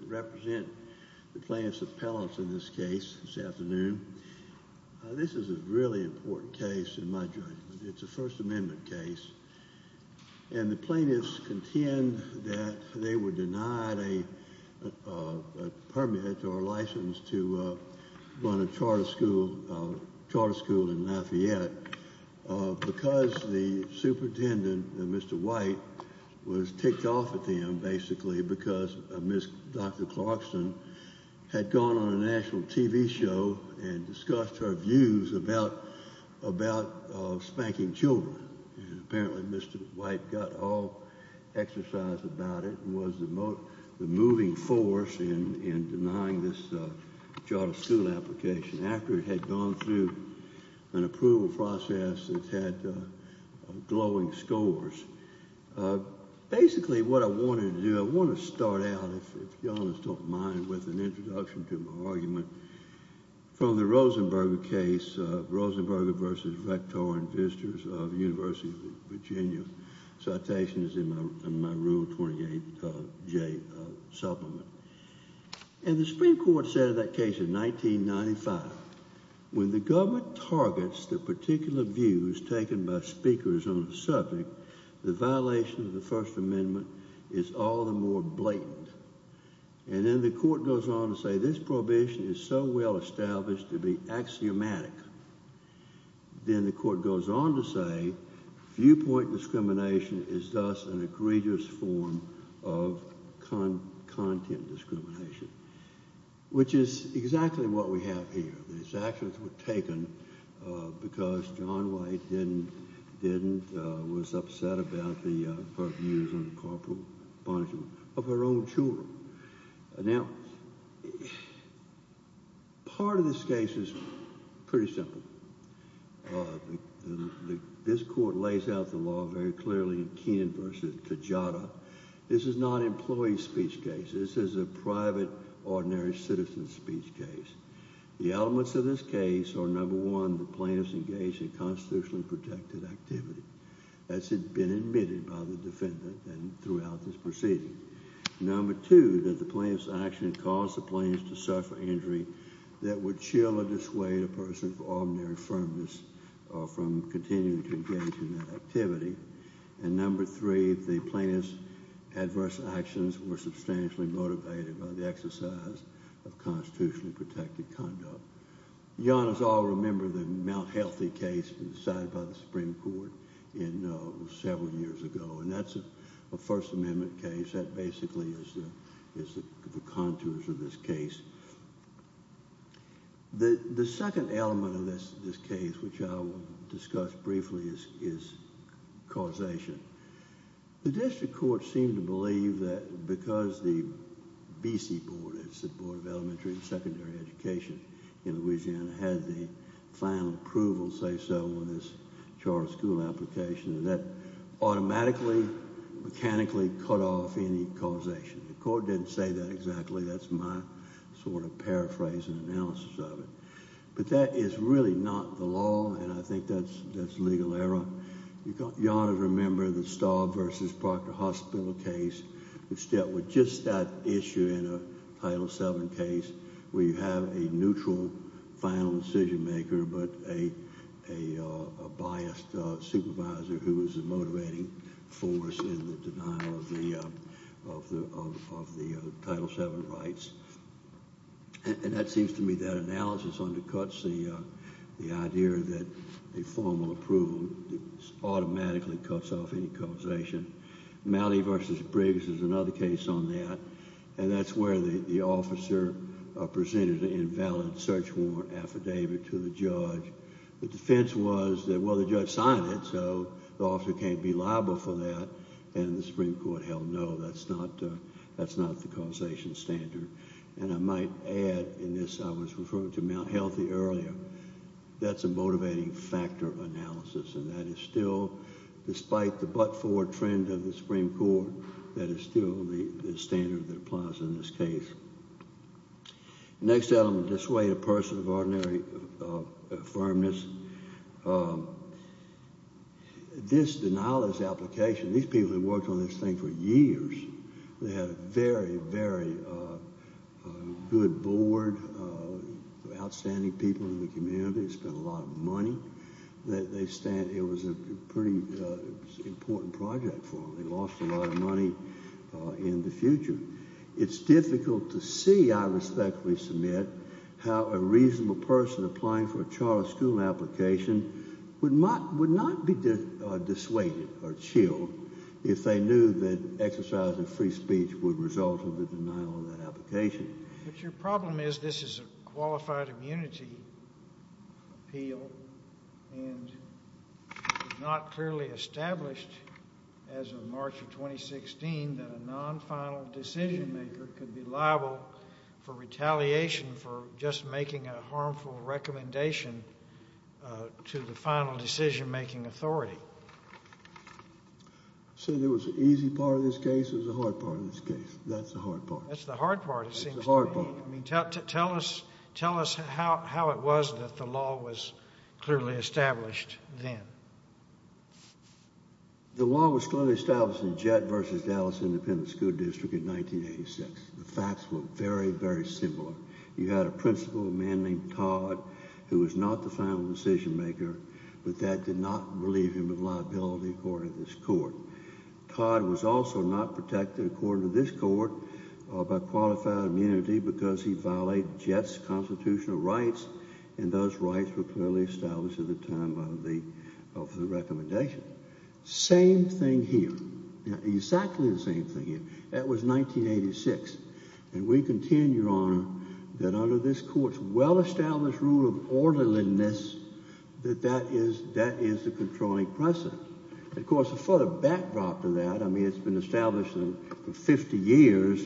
I represent the plaintiffs' appellants in this case this afternoon. This is a really important case in my judgment. It's a First Amendment case. And the plaintiffs contend that they were denied a permit or license to run a charter school in Lafayette because the superintendent, Mr. White, was ticked off at the end basically because Dr. Clarkston had gone on a national TV show and discussed her views about spanking children. Apparently Mr. White got all exercise about it and was the moving force in denying this charter school application. After it had gone through an approval process, it had glowing scores. Basically what I wanted to do, I want to start out, if you don't mind with an introduction to my argument, from the Rosenberger case, Rosenberger v. Rector and Visitors of the University of Virginia. Citation is in my Rule 28J supplement. And the Supreme Court said in that case in 1995, when the government targets the particular views taken by speakers on a subject, the violation of the First Amendment is all the more blatant. And then the court goes on to say this prohibition is so well established to be axiomatic. Then the court goes on to say viewpoint discrimination is thus an egregious form of content discrimination, which is exactly what we have here. These actions were taken because John White was upset about her views on corporal punishment of her own children. Now, part of this case is pretty simple. This court lays out the law very clearly in Keenan v. Cajada. This is not an employee's speech case. This is a private, ordinary citizen's speech case. The elements of this case are, number one, the plaintiff's engaged in constitutionally protected activity. That's been admitted by the defendant throughout this proceeding. Number two, that the plaintiff's action caused the plaintiff to suffer injury that would chill or dissuade a person from ordinary firmness or from continuing to engage in that activity. And number three, the plaintiff's adverse actions were substantially motivated by the exercise of constitutionally protected conduct. You all remember the Mount Healthy case decided by the Supreme Court several years ago. And that's a First Amendment case. That basically is the contours of this case. The second element of this case, which I will discuss briefly, is causation. The district court seemed to believe that because the BC Board, it's the Board of Elementary and Secondary Education in Louisiana, had the final approval, say so, on this charter school application, that automatically, mechanically cut off any causation. The court didn't say that exactly. That's my sort of paraphrasing analysis of it. But that is really not the law, and I think that's legal error. You ought to remember the Staub v. Proctor Hospital case, which dealt with just that issue in a Title VII case, where you have a neutral final decision maker but a biased supervisor who is a motivating force in the denial of the Title VII rights. And that seems to me that analysis undercuts the idea that a formal approval automatically cuts off any causation. Malley v. Briggs is another case on that. And that's where the officer presented an invalid search warrant affidavit to the judge. The defense was that, well, the judge signed it, so the officer can't be liable for that, and the Supreme Court held no, that's not the causation standard. And I might add in this, I was referring to Mount Healthy earlier, that's a motivating factor analysis, and that is still, despite the but-for trend of the Supreme Court, that is still the standard that applies in this case. Next element, dissuade a person of ordinary firmness. This denialist application, these people had worked on this thing for years. They had a very, very good board of outstanding people in the community, spent a lot of money. It was a pretty important project for them. They lost a lot of money in the future. It's difficult to see, I respectfully submit, how a reasonable person applying for a charter school application would not be dissuaded or chilled if they knew that exercising free speech would result in the denial of that application. But your problem is, this is a qualified immunity appeal, and it was not clearly established as of March of 2016 that a non-final decision-maker could be liable for retaliation for just making a harmful recommendation to the final decision-making authority. So there was an easy part of this case, there was a hard part of this case. That's the hard part. That's the hard part, it seems to me. That's the hard part. Tell us how it was that the law was clearly established then. The law was clearly established in Jett v. Dallas Independent School District in 1986. The facts were very, very similar. You had a principal, a man named Todd, who was not the final decision-maker, but that did not relieve him of liability according to this court. Todd was also not protected according to this court by qualified immunity because he violated Jett's constitutional rights, and those rights were clearly established at the time of the recommendation. Same thing here. Exactly the same thing here. That was 1986. And we contend, Your Honor, that under this court's well-established rule of orderliness, that that is the controlling precedent. Of course, a further backdrop to that, I mean, it's been established for 50 years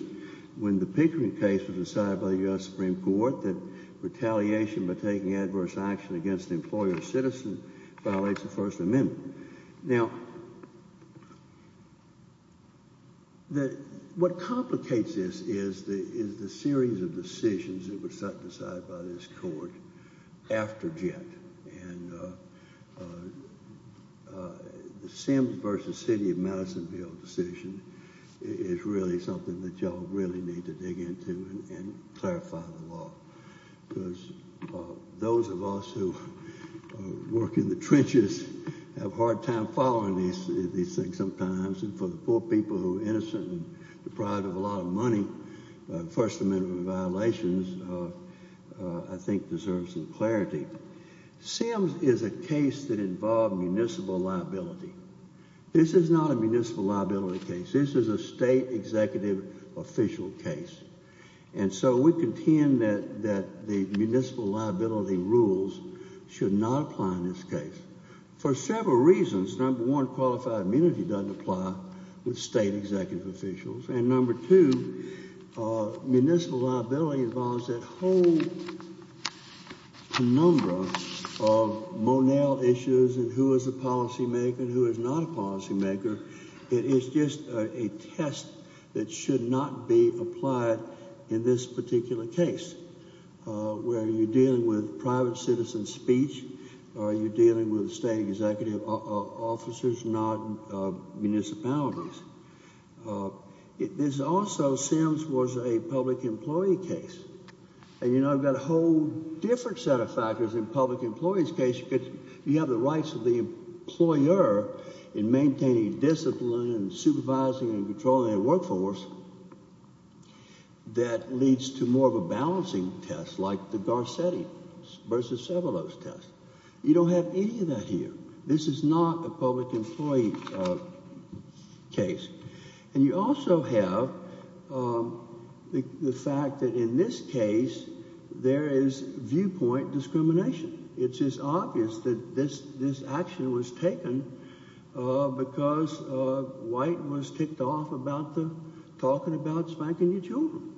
when the Pickering case was decided by the U.S. Supreme Court that retaliation by taking adverse action against an employer or citizen violates the First Amendment. Now, what complicates this is the series of decisions that were set aside by this court after Jett. And the Sims v. City of Madisonville decision is really something that y'all really need to dig into and clarify the law, because those of us who work in the trenches have a hard time following these things sometimes, and for the poor people who are innocent and deprived of a lot of money, First Amendment violations, I think, deserve some clarity. Sims is a case that involved municipal liability. This is not a municipal liability case. This is a state executive official case. And so we contend that the municipal liability rules should not apply in this case for several reasons. Number one, qualified immunity doesn't apply with state executive officials. And number two, municipal liability involves that whole penumbra of Monell issues and who is a policymaker and who is not a policymaker. It is just a test that should not be applied in this particular case, where you're dealing with private citizen speech or you're dealing with state executive officers, not municipalities. This also, Sims was a public employee case. And, you know, I've got a whole different set of factors in a public employee's case, because you have the rights of the employer in maintaining discipline and supervising and controlling their workforce that leads to more of a balancing test like the Garcetti versus Sevelos test. You don't have any of that here. This is not a public employee case. And you also have the fact that in this case there is viewpoint discrimination. It's just obvious that this action was taken because White was ticked off about talking about spanking your children.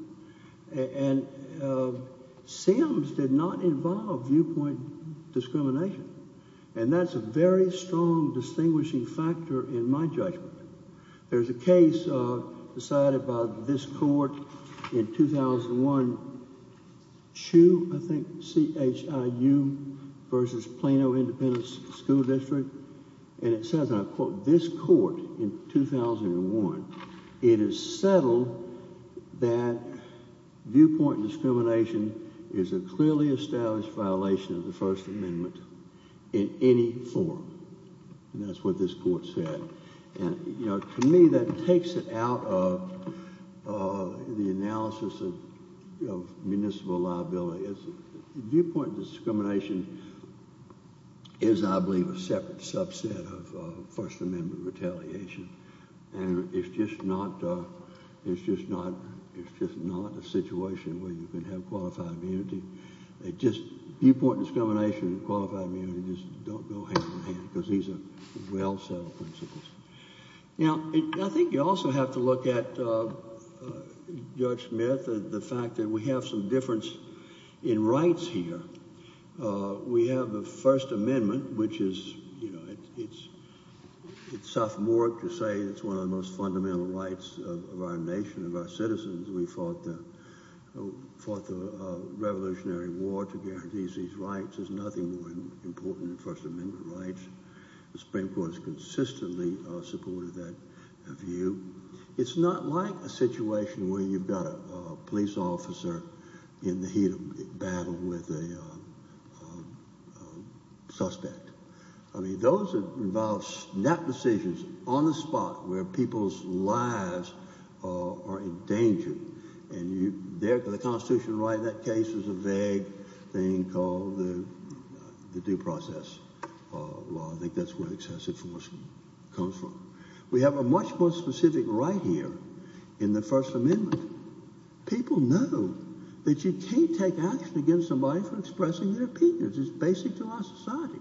And Sims did not involve viewpoint discrimination. And that's a very strong distinguishing factor in my judgment. There's a case decided by this court in 2001, Chiu versus Plano Independent School District, and it says, and I quote, this court in 2001, it is settled that viewpoint discrimination is a clearly established violation of the First Amendment in any form. And that's what this court said. And, you know, to me that takes it out of the analysis of municipal liability. Viewpoint discrimination is, I believe, a separate subset of First Amendment retaliation. And it's just not a situation where you can have qualified immunity. Viewpoint discrimination and qualified immunity just don't go hand in hand because these are well-settled principles. Now, I think you also have to look at, Judge Smith, the fact that we have some difference in rights here. We have the First Amendment, which is, you know, it's sophomoric to say it's one of the most fundamental rights of our nation, of our citizens. We fought the Revolutionary War to guarantee these rights. There's nothing more important than First Amendment rights. The Supreme Court has consistently supported that view. It's not like a situation where you've got a police officer in the heat of battle with a suspect. I mean, those involve snap decisions on the spot where people's lives are in danger. And the Constitution right in that case is a vague thing called the due process law. I think that's where excessive force comes from. We have a much more specific right here in the First Amendment. People know that you can't take action against somebody for expressing their opinions. It's basic to our society.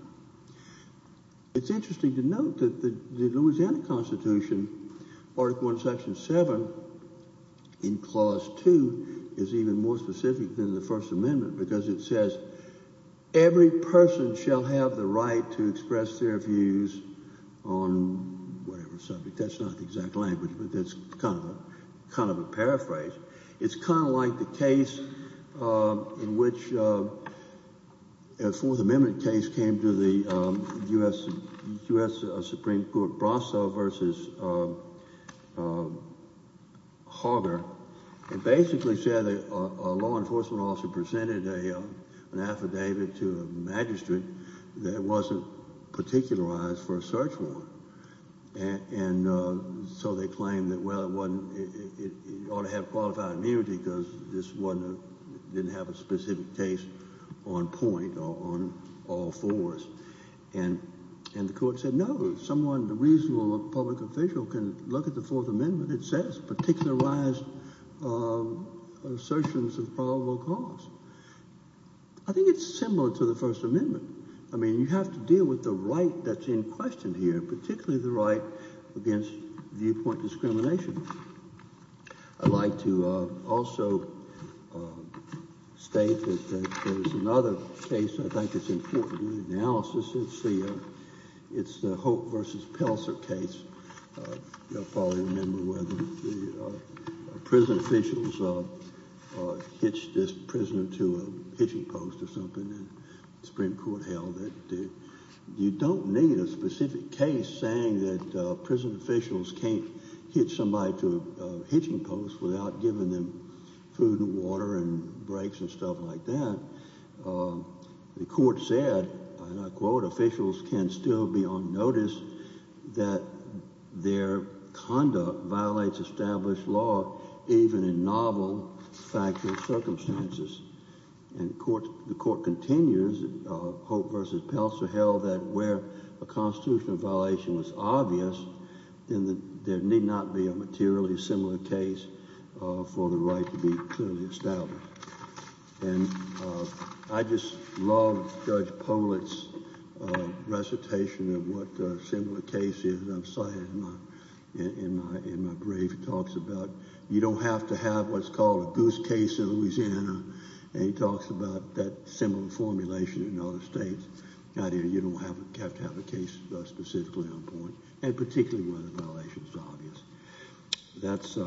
It's interesting to note that the Louisiana Constitution, Article 1, Section 7, in Clause 2, is even more specific than the First Amendment, because it says every person shall have the right to express their views on whatever subject. That's not the exact language, but that's kind of a paraphrase. It's kind of like the case in which a Fourth Amendment case came to the U.S. Supreme Court, Brasso v. Hoggar. It basically said that a law enforcement officer presented an affidavit to a magistrate that wasn't particularized for a search warrant. And so they claimed that, well, it ought to have qualified immunity because this one didn't have a specific case on point or on all fours. And the court said, no, someone, a reasonable public official can look at the Fourth Amendment. It says particularized assertions of probable cause. I think it's similar to the First Amendment. I mean, you have to deal with the right that's in question here, particularly the right against viewpoint discrimination. I'd like to also state that there's another case I think that's important in the analysis. It's the Hope v. Pelser case. You'll probably remember where the prison officials hitched this prisoner to a hitching post or something, and the Supreme Court held that you don't need a specific case saying that prison officials can't hitch somebody to a hitching post without giving them food and water and breaks and stuff like that. The court said, and I quote, officials can still be on notice that their conduct violates established law, even in novel factual circumstances. And the court continues, Hope v. Pelser held that where a constitutional violation was obvious, then there need not be a materially similar case for the right to be clearly established. And I just love Judge Pollitt's recitation of what a similar case is. I saw it in my brief. He talks about you don't have to have what's called a goose case in Louisiana, and he talks about that similar formulation in other states. You don't have to have a case specifically on point, and particularly where the violation is obvious. That's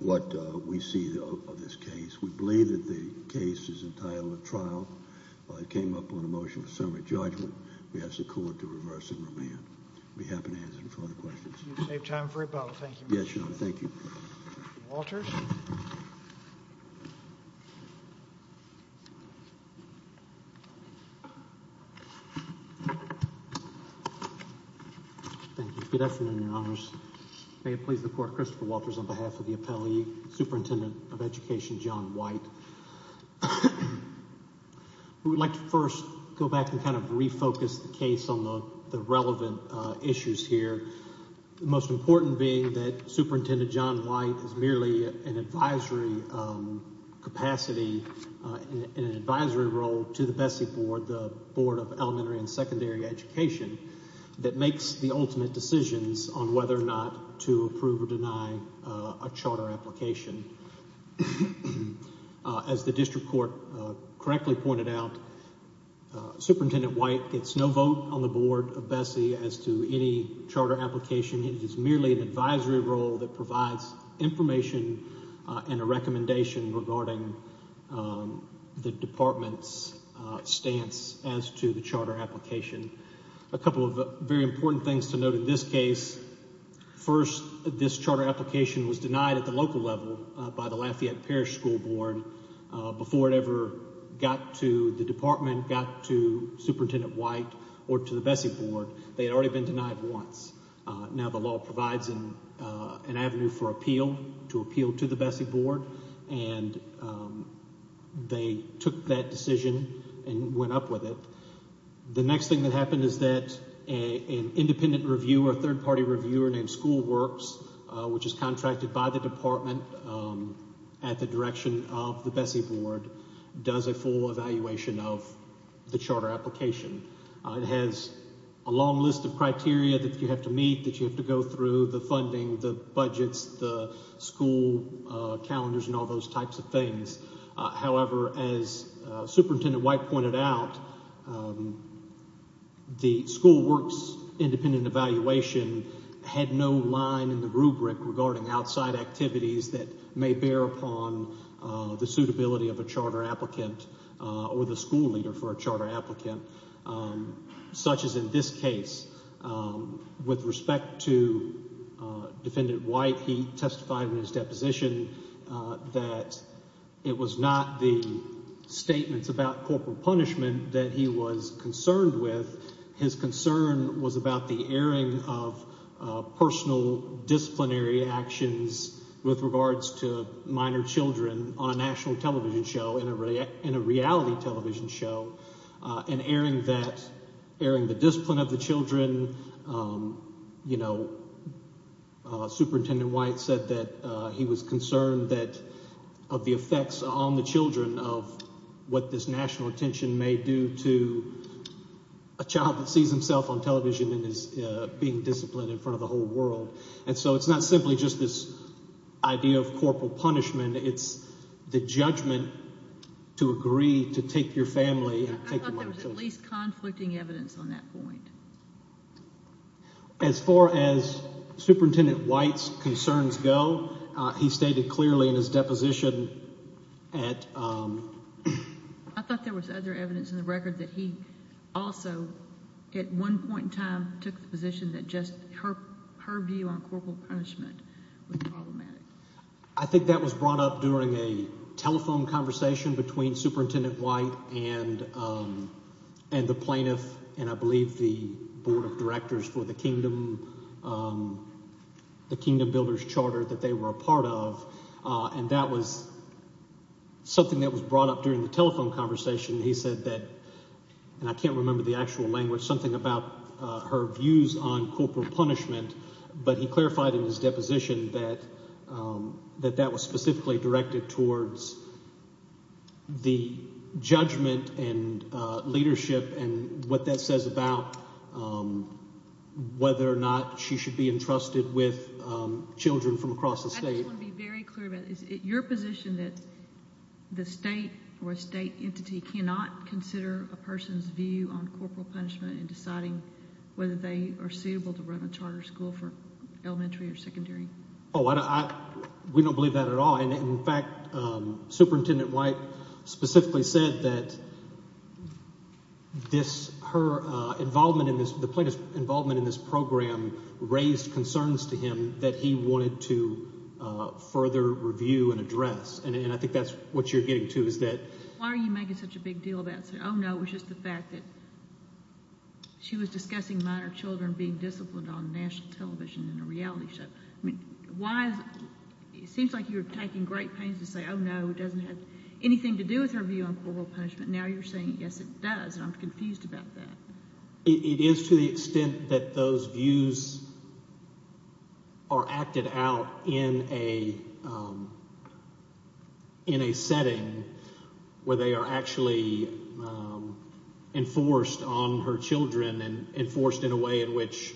what we see of this case. We believe that the case is entitled a trial. It came up on a motion for summary judgment. We ask the court to reverse and remand. We'd be happy to answer any further questions. If you could save time for rebuttal, thank you. Yes, Your Honor. Thank you. Walters. Thank you. Good afternoon, Your Honors. May it please the court, Christopher Walters on behalf of the appellee, Superintendent of Education John White. We would like to first go back and kind of refocus the case on the relevant issues here. The most important being that Superintendent John White is merely an advisory capacity in an advisory role to the BESSE board, the Board of Elementary and Secondary Education, that makes the ultimate decisions on whether or not to approve or deny a charter application. As the district court correctly pointed out, Superintendent White gets no vote on the board of BESSE as to any charter application. It is merely an advisory role that provides information and a recommendation regarding the department's stance as to the charter application. A couple of very important things to note in this case. First, this charter application was denied at the local level by the Lafayette Parish School Board. Before it ever got to the department, got to Superintendent White or to the BESSE board, they had already been denied once. Now the law provides an avenue for appeal, to appeal to the BESSE board, and they took that decision and went up with it. The next thing that happened is that an independent reviewer, a third-party reviewer named School Works, which is contracted by the department at the direction of the BESSE board, does a full evaluation of the charter application. It has a long list of criteria that you have to meet, that you have to go through, the funding, the budgets, the school calendars, and all those types of things. However, as Superintendent White pointed out, the School Works independent evaluation had no line in the rubric regarding outside activities that may bear upon the suitability of a charter applicant or the school leader for a charter applicant, such as in this case. With respect to Defendant White, he testified in his deposition that it was not the statements about corporal punishment that he was concerned with. His concern was about the airing of personal disciplinary actions with regards to minor children on a national television show, in a reality television show, and airing the discipline of the children. Superintendent White said that he was concerned of the effects on the children of what this national attention may do to a child that sees himself on television and is being disciplined in front of the whole world. And so it's not simply just this idea of corporal punishment, it's the judgment to agree to take your family and take your minor children. I thought there was at least conflicting evidence on that point. As far as Superintendent White's concerns go, he stated clearly in his deposition at... I thought there was other evidence in the record that he also, at one point in time, took the position that just her view on corporal punishment was problematic. I think that was brought up during a telephone conversation between Superintendent White and the plaintiff, and I believe the Board of Directors for the Kingdom, the Kingdom Builders' Charter that they were a part of, and that was something that was brought up during the telephone conversation. He said that, and I can't remember the actual language, something about her views on corporal punishment, but he clarified in his deposition that that was specifically directed towards the judgment and leadership and what that says about whether or not she should be entrusted with children from across the state. I just want to be very clear about this. Is it your position that the state or a state entity cannot consider a person's view on corporal punishment in deciding whether they are suitable to run a charter school for elementary or secondary? Oh, we don't believe that at all. In fact, Superintendent White specifically said that this – her involvement in this – the plaintiff's involvement in this program raised concerns to him that he wanted to further review and address, and I think that's what you're getting to is that... Why are you making such a big deal about – oh, no, it was just the fact that she was discussing minor children being disciplined on national television in a reality show. I mean, why is – it seems like you were taking great pains to say, oh, no, it doesn't have anything to do with her view on corporal punishment. Now you're saying, yes, it does, and I'm confused about that. It is to the extent that those views are acted out in a setting where they are actually enforced on her children and enforced in a way in which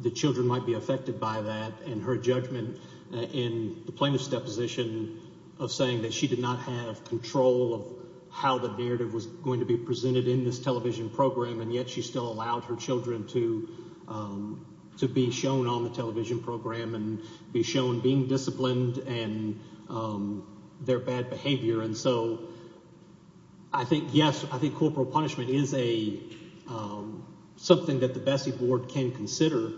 the children might be affected by that and her judgment in the plaintiff's deposition of saying that she did not have control of how the narrative was going to be presented in this television program. And yet she still allowed her children to be shown on the television program and be shown being disciplined and their bad behavior. And so I think, yes, I think corporal punishment is a – something that the Bessie board can consider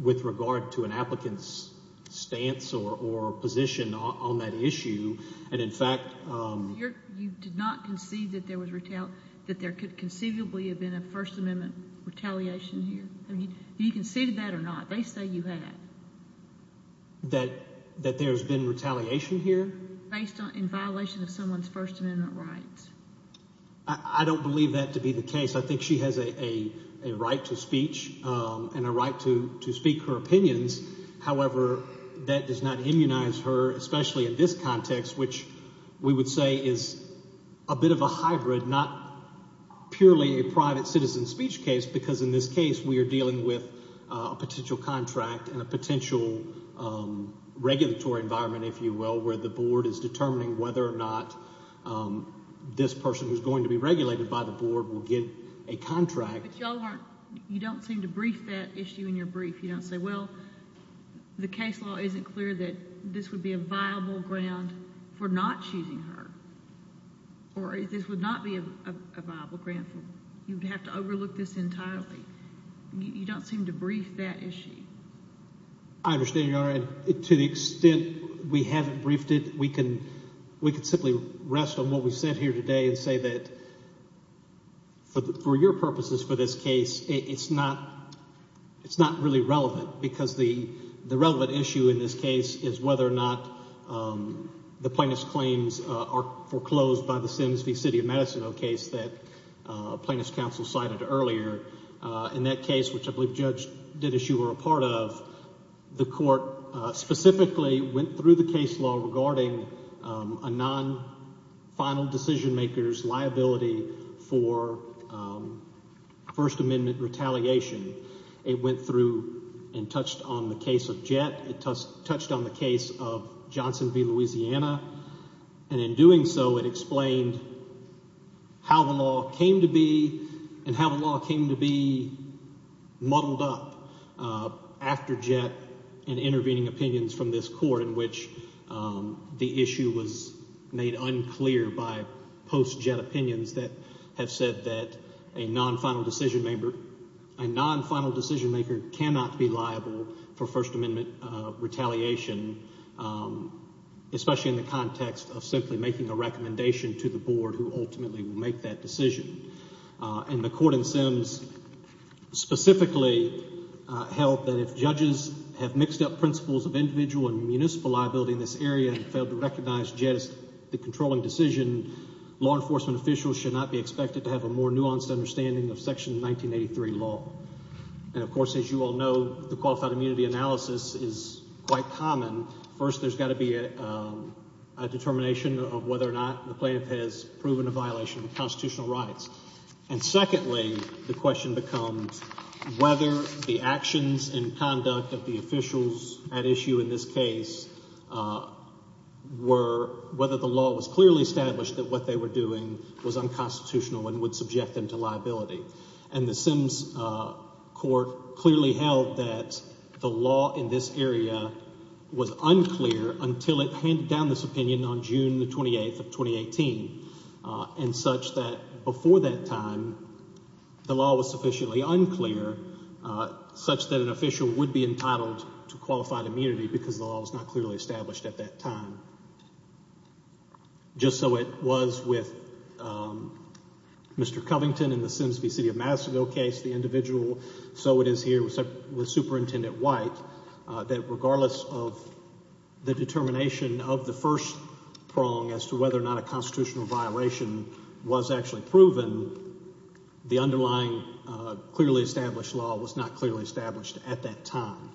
with regard to an applicant's stance or position on that issue, and in fact – So you did not concede that there was – that there could conceivably have been a First Amendment retaliation here? Do you concede that or not? They say you had. That there has been retaliation here? Based on – in violation of someone's First Amendment rights. I don't believe that to be the case. I think she has a right to speech and a right to speak her opinions. But y'all aren't – you don't seem to brief that issue in your brief. You don't say, well, the case law isn't clear that this would be a viable ground for not choosing her, or this would not be a viable ground for – you would have to overlook this entirely. You don't seem to brief that issue. I understand, Your Honor. To the extent we haven't briefed it, we can simply rest on what we said here today and say that for your purposes for this case, it's not really relevant because the relevant issue in this case is whether or not the plaintiff's claims are foreclosed by the Sims v. City of Madison case that plaintiff's counsel cited earlier. In that case, which I believe Judge Didis, you were a part of, the court specifically went through the case law regarding a non-final decision-maker's liability for First Amendment retaliation. It went through and touched on the case of Jett. It touched on the case of Johnson v. Louisiana. And in doing so, it explained how the law came to be and how the law came to be muddled up after Jett and intervening opinions from this court in which the issue was made unclear by post-Jett opinions that have said that a non-final decision-maker – a non-final decision-maker has a right to speech. A non-final decision-maker cannot be liable for First Amendment retaliation, especially in the context of simply making a recommendation to the board who ultimately will make that decision. And the court in Sims specifically held that if judges have mixed up principles of individual and municipal liability in this area and failed to recognize Jett as the controlling decision, law enforcement officials should not be expected to have a more nuanced understanding of Section 1983 law. And, of course, as you all know, the qualified immunity analysis is quite common. First, there's got to be a determination of whether or not the plaintiff has proven a violation of constitutional rights. And secondly, the question becomes whether the actions and conduct of the officials at issue in this case were – whether the law was clearly established that what they were doing was unconstitutional and would subject them to liability. And the Sims court clearly held that the law in this area was unclear until it handed down this opinion on June the 28th of 2018 and such that before that time, the law was sufficiently unclear such that an official would be entitled to qualified immunity because the law was not clearly established at that time. Just so it was with Mr. Covington in the Sims v. City of Madisonville case, the individual so it is here with Superintendent White, that regardless of the determination of the first prong as to whether or not a constitutional violation was actually proven, the underlying clearly established law was not clearly established at that time.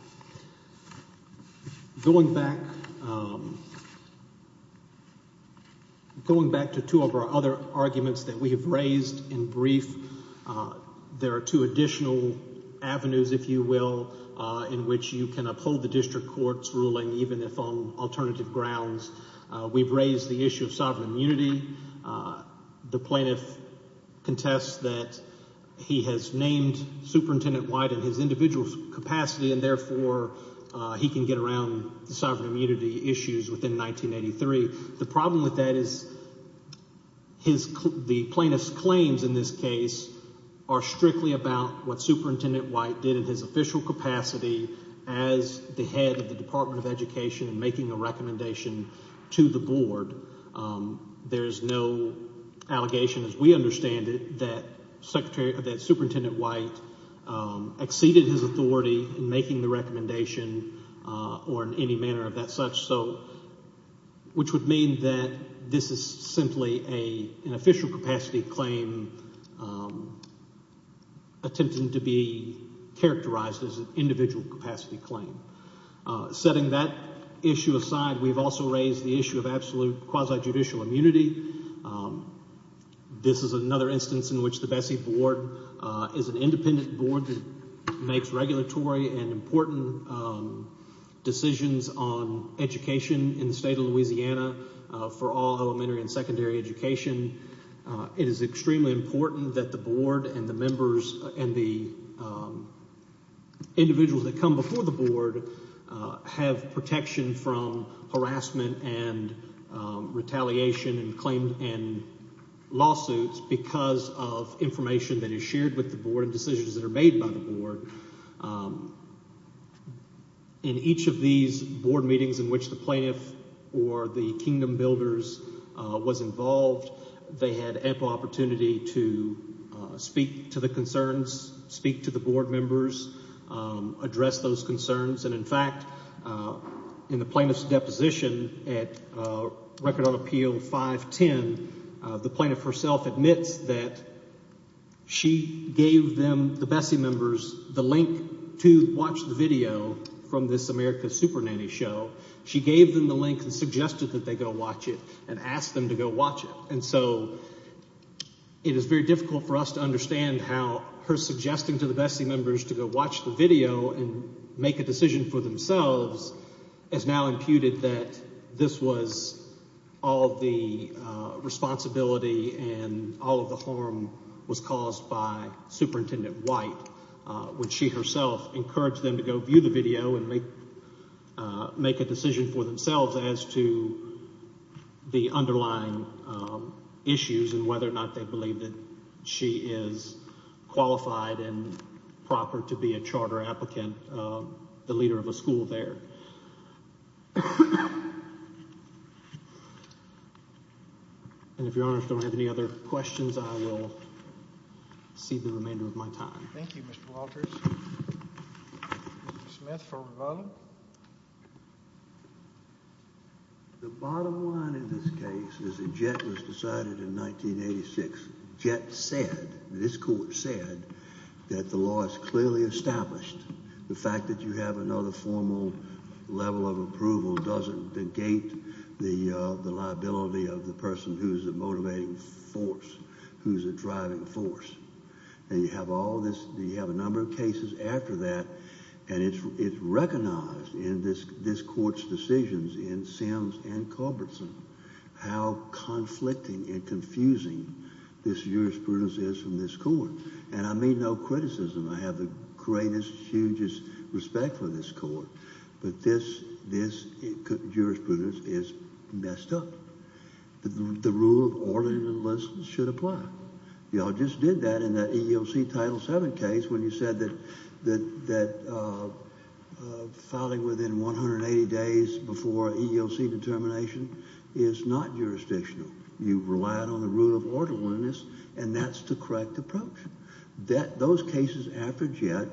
Going back – going back to two of our other arguments that we have raised in brief, there are two additional avenues, if you will, in which you can uphold the district court's ruling even if on alternative grounds. We've raised the issue of sovereign immunity. The plaintiff contests that he has named Superintendent White in his individual capacity and therefore he can get around the sovereign immunity issues within 1983. The problem with that is his – the plaintiff's claims in this case are strictly about what Superintendent White did in his official capacity as the head of the Department of Education and making a recommendation to the board. There is no allegation as we understand it that Secretary – that Superintendent White exceeded his authority in making the recommendation or in any manner of that such, so – which would mean that this is simply an official capacity claim attempting to be characterized as an individual capacity claim. Setting that issue aside, we've also raised the issue of absolute quasi-judicial immunity. This is another instance in which the Bessie Board is an independent board that makes regulatory and important decisions on education in the state of Louisiana for all elementary and secondary education. It is extremely important that the board and the members and the individuals that come before the board have protection from harassment and retaliation and claim – and lawsuits because of information that is shared with the board and decisions that are made by the board. In each of these board meetings in which the plaintiff or the kingdom builders was involved, they had ample opportunity to speak to the concerns, speak to the board members, address those concerns. And, in fact, in the plaintiff's deposition at Record on Appeal 510, the plaintiff herself admits that she gave them, the Bessie members, the link to watch the video from this America's Supernanny show. She gave them the link and suggested that they go watch it and asked them to go watch it. And so it is very difficult for us to understand how her suggesting to the Bessie members to go watch the video and make a decision for themselves has now imputed that this was all the responsibility and all of the harm was caused by Superintendent White. Would she herself encourage them to go view the video and make a decision for themselves as to the underlying issues and whether or not they believe that she is qualified and proper to be a charter applicant, the leader of a school there? And if Your Honor, if you don't have any other questions, I will cede the remainder of my time. Thank you, Mr. Walters. Mr. Smith for rebuttal. The bottom line in this case is that Jett was decided in 1986. Jett said, this court said, that the law is clearly established. The fact that you have another formal level of approval doesn't negate the liability of the person who is a motivating force, who is a driving force. And you have all this, you have a number of cases after that, and it's recognized in this court's decisions in Sims and Culbertson how conflicting and confusing this jurisprudence is from this court. And I mean no criticism. I have the greatest, hugest respect for this court. But this jurisprudence is messed up. The rule of orderliness should apply. You all just did that in the EEOC Title VII case when you said that filing within 180 days before EEOC determination is not jurisdictional. You relied on the rule of orderliness, and that's the correct approach. Those cases after Jett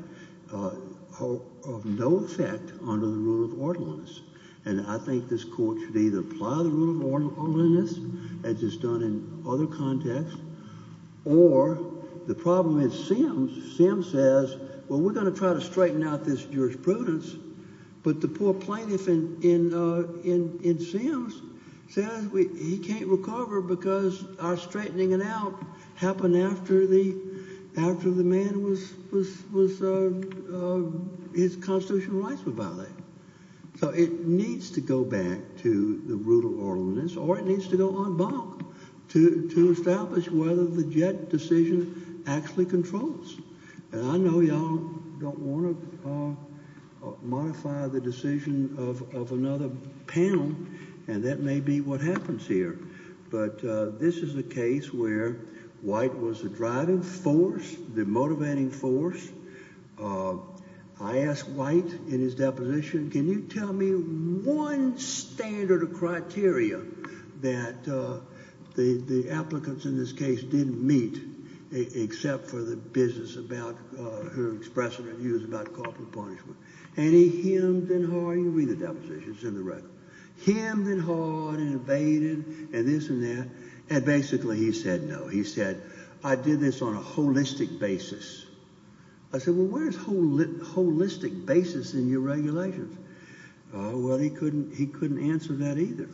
are of no effect under the rule of orderliness. And I think this court should either apply the rule of orderliness, as it's done in other contexts, or the problem in Sims, Sims says, well, we're going to try to straighten out this jurisprudence. But the poor plaintiff in Sims says he can't recover because our straightening it out happened after the man was, his constitutional rights were violated. So it needs to go back to the rule of orderliness, or it needs to go en banc to establish whether the Jett decision actually controls. And I know you all don't want to modify the decision of another panel, and that may be what happens here. But this is a case where White was the driving force, the motivating force. I asked White in his deposition, can you tell me one standard of criteria that the applicants in this case didn't meet, except for the business about her expressing her views about corporal punishment. And he hemmed and hawed, and you read the deposition, it's in the record, hemmed and hawed and evaded and this and that. And basically he said, no, he said, I did this on a holistic basis. I said, well, where's holistic basis in your regulations? Well, he couldn't answer that either.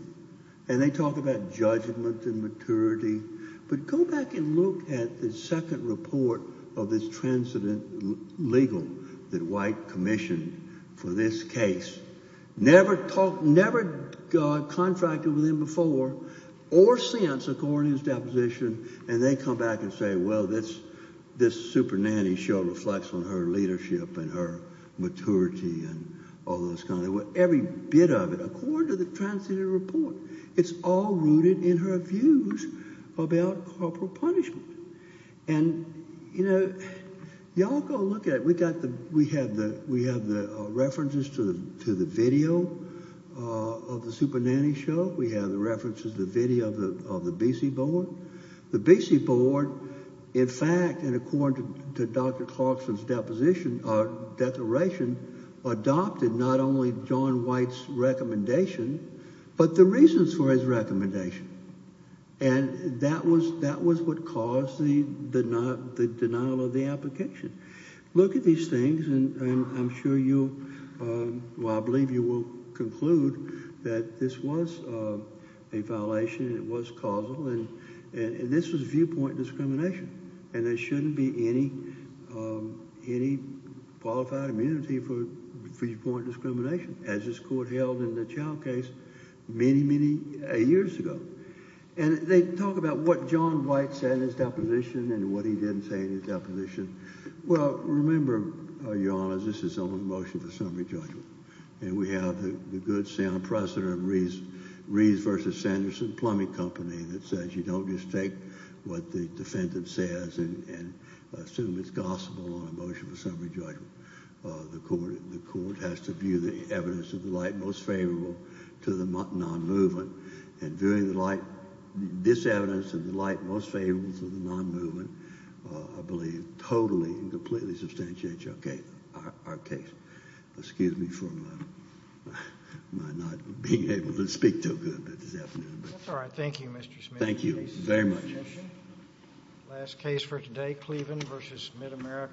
And they talk about judgment and maturity. But go back and look at the second report of this transcendent legal that White commissioned for this case. Never talked, never contracted with him before or since, according to his deposition. And they come back and say, well, this super nanny show reflects on her leadership and her maturity and all those kinds of things. Every bit of it, according to the transcendent report, it's all rooted in her views about corporal punishment. And, you know, y'all go look at it. We have the references to the video of the super nanny show. We have the references to the video of the BC board. The BC board, in fact, and according to Dr. Clarkson's declaration, adopted not only John White's recommendation, but the reasons for his recommendation. And that was what caused the denial of the application. Look at these things and I'm sure you'll, well, I believe you will conclude that this was a violation. It was causal. And this was viewpoint discrimination. And there shouldn't be any qualified immunity for viewpoint discrimination, as this court held in the Chow case many, many years ago. And they talk about what John White said in his deposition and what he didn't say in his deposition. Well, remember, Your Honor, this is only a motion for summary judgment. And we have the good sound precedent of Reeves v. Sanderson Plumbing Company that says you don't just take what the defendant says and assume it's gospel on a motion for summary judgment. The court has to view the evidence of the light most favorable to the non-movement. And viewing this evidence of the light most favorable to the non-movement, I believe, totally and completely substantiates our case. Excuse me for my not being able to speak so good this afternoon. That's all right. Thank you, Mr. Smith. Thank you very much. Last case for today, Cleveland v. MidAmerica.